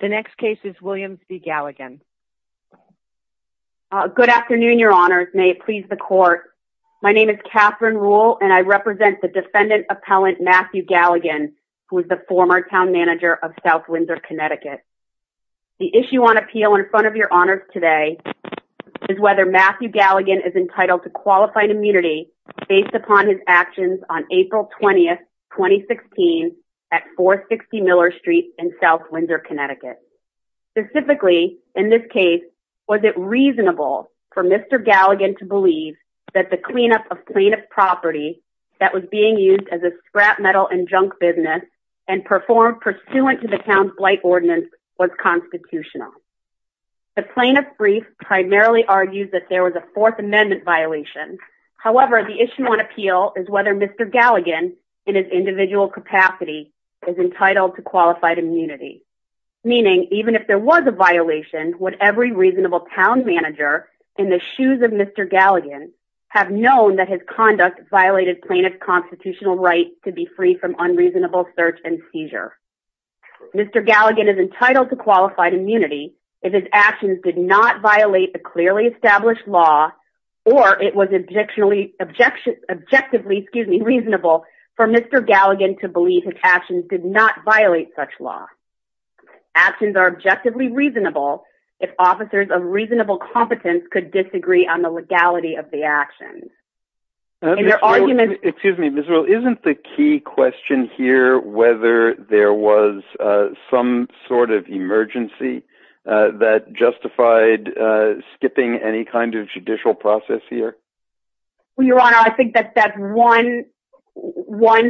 The next case is Williams v. Galligan. Good afternoon, your honors. May it please the court. My name is Catherine Rule and I represent the defendant appellant Matthew Galligan, who is the former town manager of South Windsor, Connecticut. The issue on appeal in front of your honors today is whether Matthew Galligan is entitled to qualified immunity based upon his actions on April 20, 2016 at 460 Miller Street in South Windsor, Connecticut. Specifically, in this case, was it reasonable for Mr. Galligan to believe that the cleanup of plaintiff's property that was being used as a scrap metal and junk business and performed pursuant to the town's blight ordinance was constitutional? The plaintiff's brief primarily argues that there was a Fourth Amendment violation. However, the issue on appeal is whether Mr. Galligan, in his individual capacity, is entitled to qualified immunity. Meaning, even if there was a violation, would every reasonable town manager in the shoes of Mr. Galligan have known that his conduct violated plaintiff's constitutional right to be free from unreasonable search and seizure? Mr. Galligan is entitled to qualified immunity if his actions did not violate the clearly established law or it was objectively reasonable for Mr. Galligan to believe his actions did not violate such law. Actions are objectively reasonable if officers of reasonable competence could disagree on the legality of the actions. Excuse me, Ms. Ruehl, isn't the key question here whether there was some sort of emergency that justified skipping any kind of judicial process here? Your Honor, I think that's one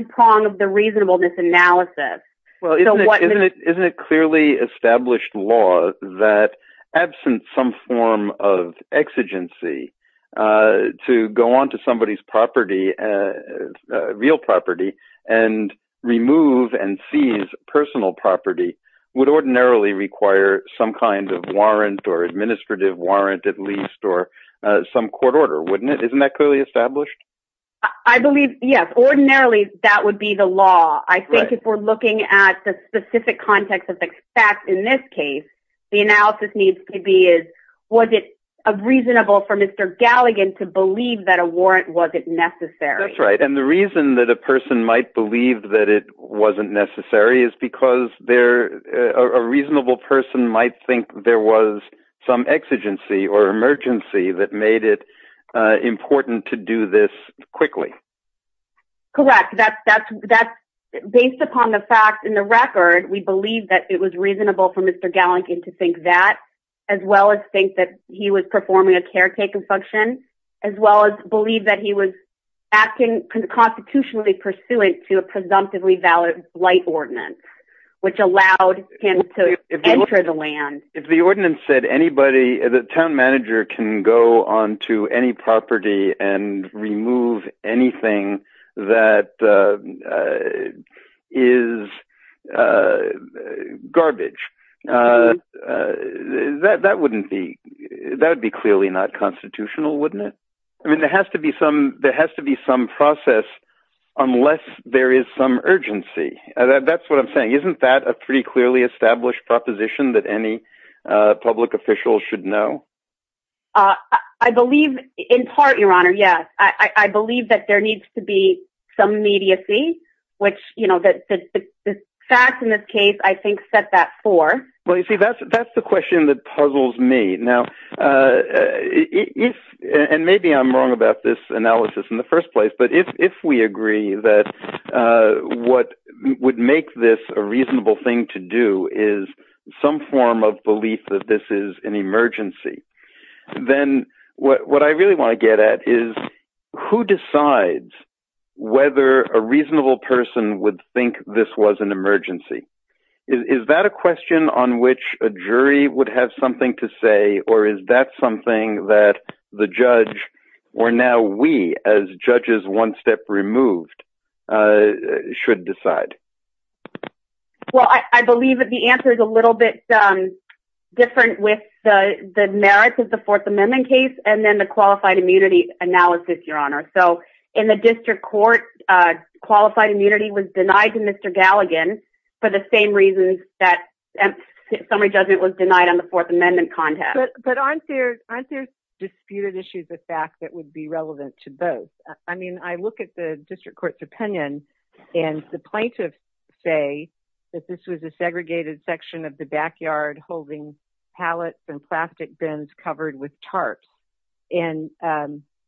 prong of the reasonableness analysis. Isn't it clearly established law that, absent some form of exigency, to go on to somebody's property, real property, and remove and seize personal property would ordinarily require some kind of warrant or administrative warrant at least or some court order, wouldn't it? Isn't that clearly established? I believe, yes. Ordinarily, that would be the law. I think if we're looking at the specific context of the facts in this case, the analysis needs to be, was it reasonable for Mr. Galligan to believe that a warrant wasn't necessary? That's right. And the reason that a person might believe that it wasn't necessary is because a reasonable person might think there was some exigency or emergency that made it important to do this quickly. Correct. Based upon the facts in the record, we believe that it was reasonable for Mr. Galligan to think that, as well as think that he was performing a caretaking function, as well as believe that he was acting constitutionally pursuant to a presumptively valid blight ordinance, which allowed him to enter the land. If the ordinance said anybody, the town manager can go onto any property and remove anything that is garbage, that would be clearly not constitutional, wouldn't it? I mean, there has to be some process unless there is some urgency. That's what I'm saying. Isn't that a pretty clearly established proposition that any public official should know? I believe in part, Your Honor, yes. I believe that there needs to be some immediacy, which the facts in this case I think set that for. Well, you see, that's the question that puzzles me. Now, and maybe I'm wrong about this analysis in the first place, but if we agree that what would make this a reasonable thing to do is some form of belief that this is an emergency, then what I really want to get at is, who decides whether a reasonable person would think this was an emergency? Is that a question on which a jury would have something to say, or is that something that the judge, or now we as judges one step removed, should decide? Well, I believe that the answer is a little bit different with the merits of the Fourth Amendment case So in the district court, qualified immunity was denied to Mr. Galligan for the same reasons that summary judgment was denied on the Fourth Amendment contest. But aren't there disputed issues of fact that would be relevant to both? I mean, I look at the district court's opinion, and the plaintiffs say that this was a segregated section of the backyard holding pallets and plastic bins covered with tarps. And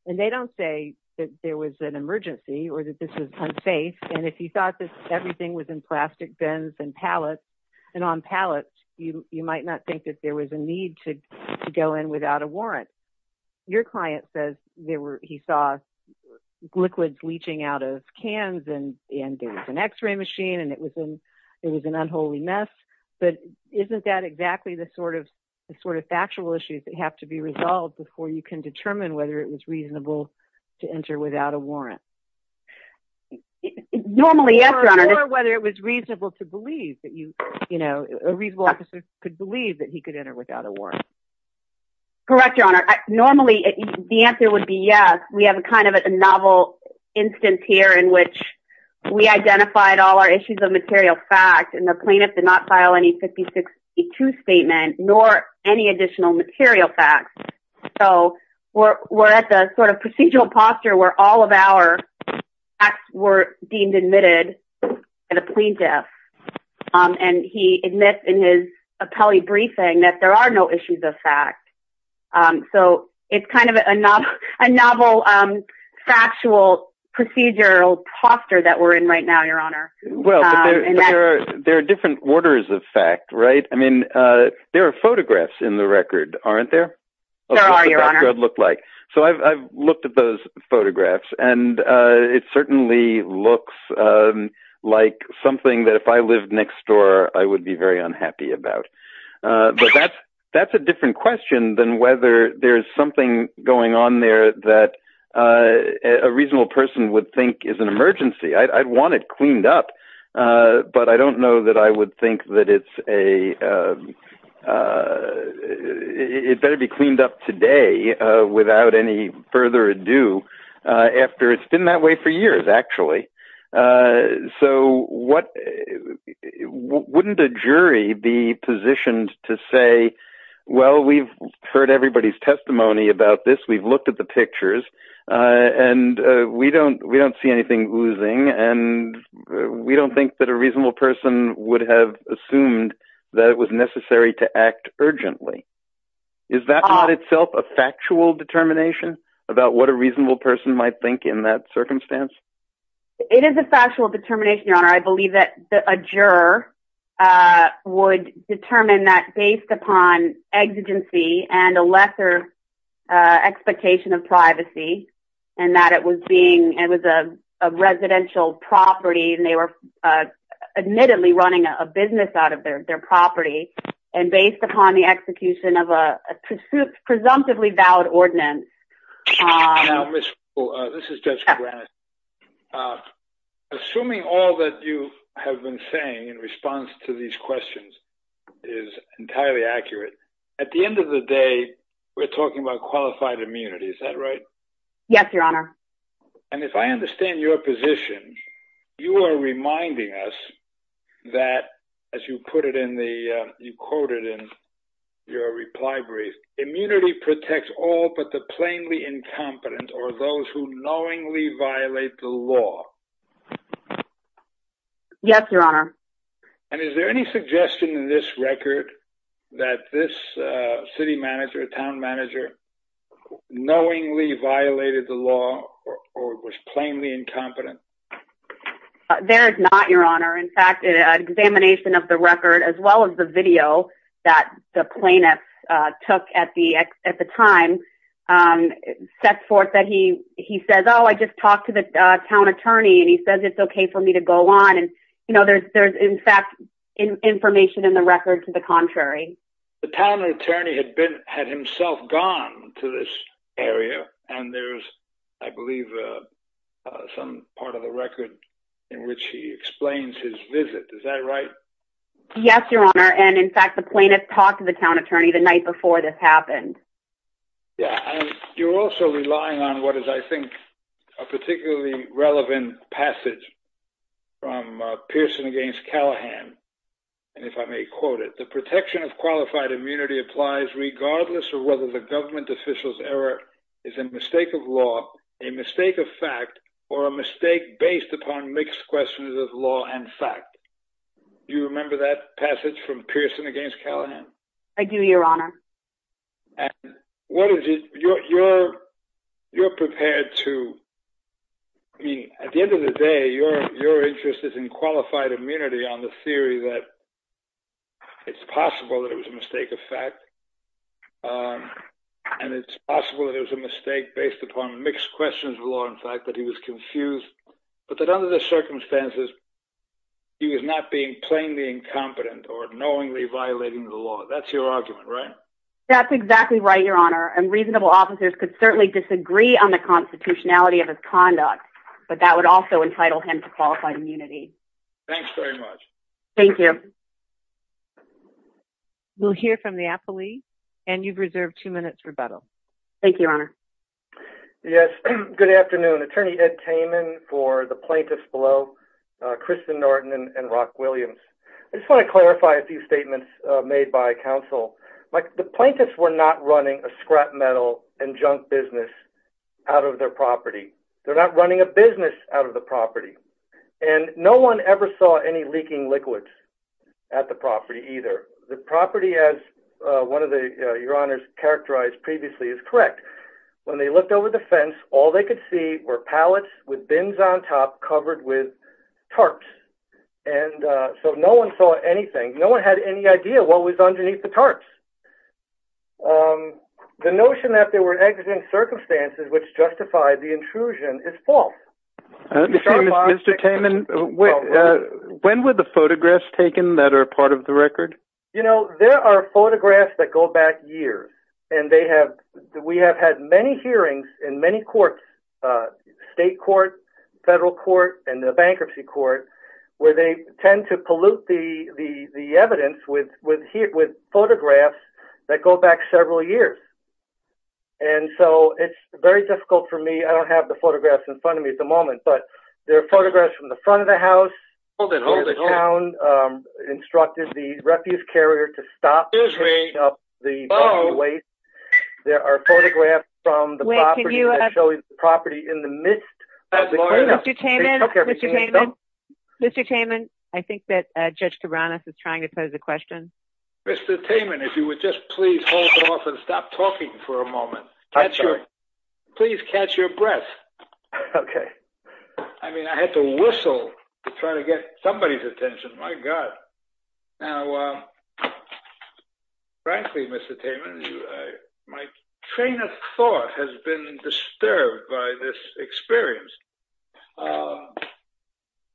they don't say that there was an emergency or that this was unsafe. And if you thought that everything was in plastic bins and pallets, and on pallets, you might not think that there was a need to go in without a warrant. Your client says he saw liquids leaching out of cans, and there was an x-ray machine, and it was an unholy mess. But isn't that exactly the sort of factual issues that have to be resolved before you can determine whether it was reasonable to enter without a warrant? Normally, yes, Your Honor. Or whether it was reasonable to believe that you, you know, a reasonable officer could believe that he could enter without a warrant. Correct, Your Honor. Normally, the answer would be yes. We have kind of a novel instance here in which we identified all our issues of material fact, and the plaintiff did not file any 5062 statement nor any additional material facts. So we're at the sort of procedural posture where all of our facts were deemed admitted by the plaintiff. And he admits in his appellee briefing that there are no issues of fact. So it's kind of a novel factual procedural posture that we're in right now, Your Honor. Well, there are different orders of fact, right? I mean, there are photographs in the record, aren't there? There are, Your Honor. So I've looked at those photographs, and it certainly looks like something that if I lived next door I would be very unhappy about. But that's a different question than whether there's something going on there that a reasonable person would think is an emergency. I'd want it cleaned up, but I don't know that I would think that it's a – it better be cleaned up today without any further ado after it's been that way for years, actually. So wouldn't a jury be positioned to say, well, we've heard everybody's testimony about this, we've looked at the pictures, and we don't see anything oozing, and we don't think that a reasonable person would have assumed that it was necessary to act urgently. Is that not itself a factual determination about what a reasonable person might think in that circumstance? I believe that a juror would determine that based upon exigency and a lesser expectation of privacy and that it was a residential property and they were admittedly running a business out of their property and based upon the execution of a presumptively valid ordinance. Now, Ms. Coole, this is Judge Kranitz. Assuming all that you have been saying in response to these questions is entirely accurate, at the end of the day, we're talking about qualified immunity. Is that right? Yes, Your Honor. And if I understand your position, you are reminding us that, as you put it in the – or those who knowingly violate the law. Yes, Your Honor. And is there any suggestion in this record that this city manager, town manager, knowingly violated the law or was plainly incompetent? There is not, Your Honor. In fact, an examination of the record as well as the video that the plaintiff took at the time sets forth that he says, oh, I just talked to the town attorney and he says it's okay for me to go on. And, you know, there's in fact information in the record to the contrary. The town attorney had himself gone to this area and there's, I believe, some part of the record in which he explains his visit. Is that right? Yes, Your Honor. And in fact, the plaintiff talked to the town attorney the night before this happened. Yeah. And you're also relying on what is, I think, a particularly relevant passage from Pearson v. Callahan. And if I may quote it, the protection of qualified immunity applies regardless of whether the government official's error is a mistake of law, a mistake of fact, or a mistake based upon mixed questions of law and fact. Do you remember that passage from Pearson v. Callahan? I do, Your Honor. And what is it, you're prepared to, I mean, at the end of the day, your interest is in qualified immunity on the theory that it's possible that it was a mistake of fact and it's possible that it was a mistake based upon mixed questions of law and fact, that he was confused, but that under the circumstances he was not being plainly incompetent or knowingly violating the law. That's your argument, right? That's exactly right, Your Honor. And reasonable officers could certainly disagree on the constitutionality of his conduct, but that would also entitle him to qualified immunity. Thanks very much. Thank you. We'll hear from the appellee. And you've reserved two minutes for rebuttal. Thank you, Your Honor. Yes, good afternoon. Attorney Ed Kamen for the plaintiffs below, Kristen Norton and Rock Williams. I just want to clarify a few statements made by counsel. The plaintiffs were not running a scrap metal and junk business out of their property. They're not running a business out of the property. And no one ever saw any leaking liquids at the property either. The property, as one of the, Your Honors, characterized previously is correct. When they looked over the fence, all they could see were pallets with bins on top covered with tarps. And so no one saw anything. No one had any idea what was underneath the tarps. The notion that there were accident circumstances which justified the intrusion is false. Mr. Kamen, when were the photographs taken that are part of the record? You know, there are photographs that go back years. And we have had many hearings in many courts, state court, federal court, and the bankruptcy court, where they tend to pollute the evidence with photographs that go back several years. And so it's very difficult for me. I don't have the photographs in front of me at the moment. But there are photographs from the front of the house. The town instructed the refuse carrier to stop picking up the waste. There are photographs from the property that show the property in the midst of the cleanup. Mr. Kamen, Mr. Kamen, I think that Judge Cabranes is trying to pose a question. Mr. Kamen, if you would just please hold off and stop talking for a moment. I'm sorry. Please catch your breath. Okay. I mean, I had to whistle to try to get somebody's attention. My God. Now, frankly, Mr. Kamen, my train of thought has been disturbed by this experience.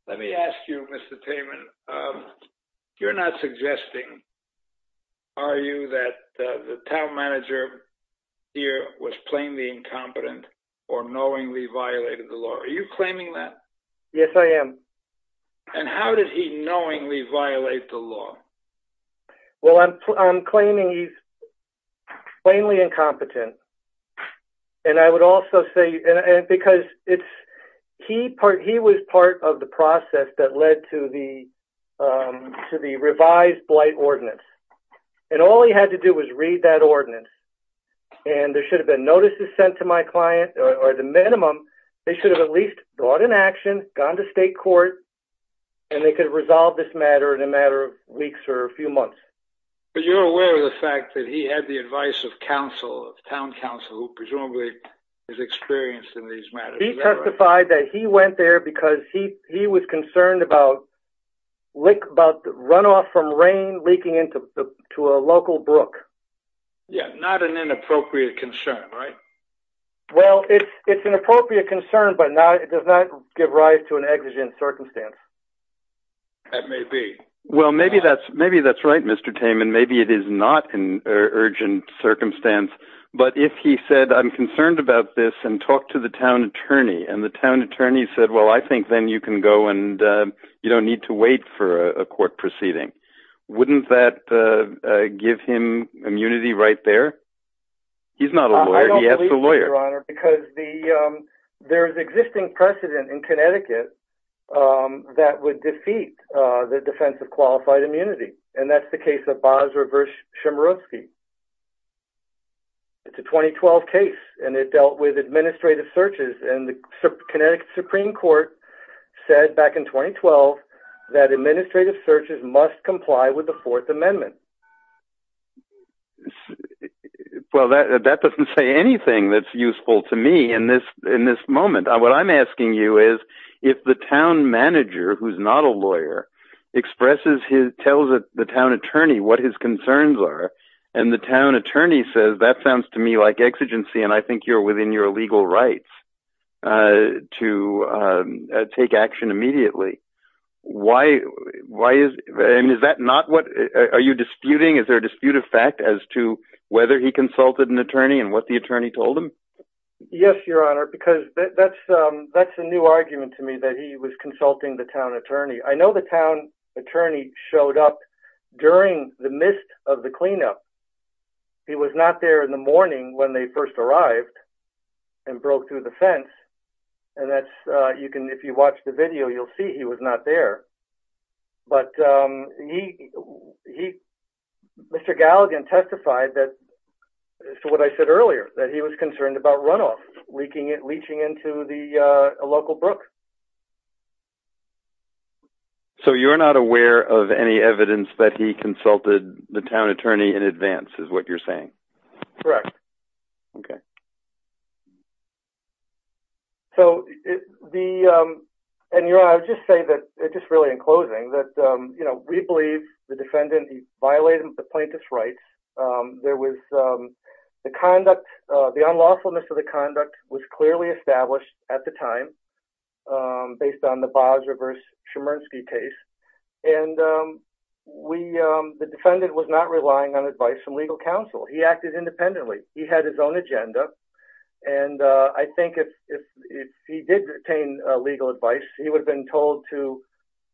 Let me ask you, Mr. Kamen, you're not suggesting, are you, that the town manager here was plainly incompetent or knowingly violated the law? Are you claiming that? Yes, I am. And how did he knowingly violate the law? Well, I'm claiming he's plainly incompetent. And I would also say, because he was part of the process that led to the revised blight ordinance. And all he had to do was read that ordinance. And there should have been notices sent to my client, or the minimum, they should have at least brought an action, gone to state court, and they could have resolved this matter in a matter of weeks or a few months. But you're aware of the fact that he had the advice of council, of town council, who presumably is experienced in these matters. He testified that he went there because he was concerned about runoff from rain leaking into a local brook. Yeah, not an inappropriate concern, right? Well, it's an appropriate concern, but it does not give rise to an exigent circumstance. That may be. Well, maybe that's right, Mr. Kamen. Maybe it is not an urgent circumstance. But if he said, I'm concerned about this, and talked to the town attorney, and the town attorney said, well, I think then you can go, and you don't need to wait for a court proceeding. Wouldn't that give him immunity right there? He's not a lawyer. He has a lawyer. I don't believe that, Your Honor, because there is existing precedent in Connecticut that would defeat the defense of qualified immunity. And that's the case of Basra versus Chemerovsky. It's a 2012 case, and it dealt with administrative searches, and the Connecticut Supreme Court said back in 2012 that administrative searches must comply with the Fourth Amendment. Well, that doesn't say anything that's useful to me in this moment. What I'm asking you is, if the town manager, who's not a lawyer, expresses his, tells the town attorney what his concerns are, and the town attorney says, that sounds to me like exigency, and I think you're within your legal rights to take action immediately. Why is, and is that not what, are you disputing, is there a dispute of fact as to whether he consulted an attorney and what the attorney told him? Yes, Your Honor, because that's a new argument to me, that he was consulting the town attorney. I know the town attorney showed up during the midst of the cleanup. He was not there in the morning when they first arrived and broke through the fence. And that's, you can, if you watch the video, you'll see he was not there. But he, Mr. Galligan testified that, to what I said earlier, that he was concerned about runoff leeching into the local brook. So you're not aware of any evidence that he consulted the town attorney in advance, is what you're saying? Correct. Okay. So the, and Your Honor, I would just say that, just really in closing, that, you know, we believe the defendant, he violated the plaintiff's rights. There was, the conduct, the unlawfulness of the conduct was clearly established at the time, based on the Boggs versus Chemerinsky case. And we, the defendant was not relying on advice from legal counsel. He acted independently. He had his own agenda. And I think if he did retain legal advice, he would have been told to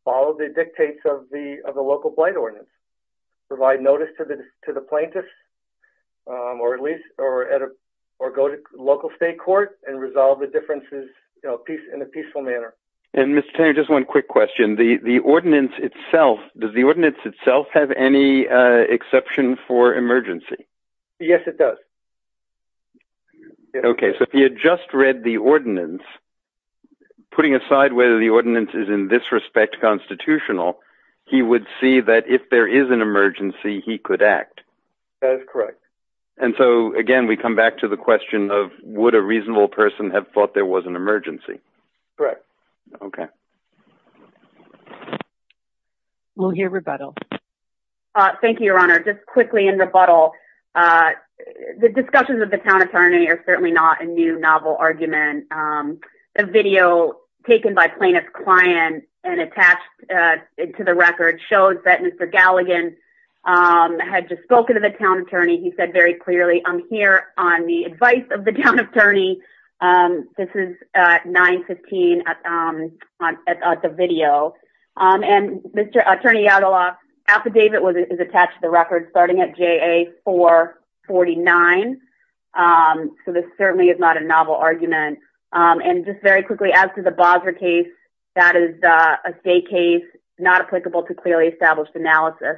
follow the dictates of the local plight ordinance, provide notice to the plaintiffs, or at least, or go to local state court and resolve the differences in a peaceful manner. And Mr. Tanner, just one quick question. The ordinance itself, does the ordinance itself have any exception for emergency? Yes, it does. Okay. So if he had just read the ordinance, putting aside whether the ordinance is in this respect constitutional, he would see that if there is an emergency, he could act. That is correct. And so, again, we come back to the question of, would a reasonable person have thought there was an emergency? Correct. Okay. We'll hear rebuttal. Thank you, Your Honor. Just quickly in rebuttal, the discussions of the town attorney are certainly not a new novel argument. A video taken by plaintiff's client and attached to the record shows that Mr. Galligan had just spoken to the town attorney. He said very clearly, I'm here on the advice of the town attorney. This is 915 at the video. And Mr. Attorney Yadlok's affidavit is attached to the record starting at JA449. So this certainly is not a novel argument. And just very quickly, as to the Bowser case, that is a state case not applicable to clearly established analysis.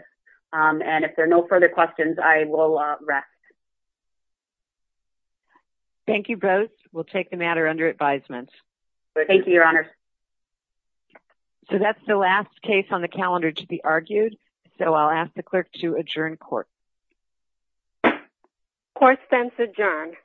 And if there are no further questions, I will rest. Thank you both. We'll take the matter under advisement. Thank you, Your Honor. So that's the last case on the calendar to be argued. So I'll ask the clerk to adjourn court. Court stands adjourned.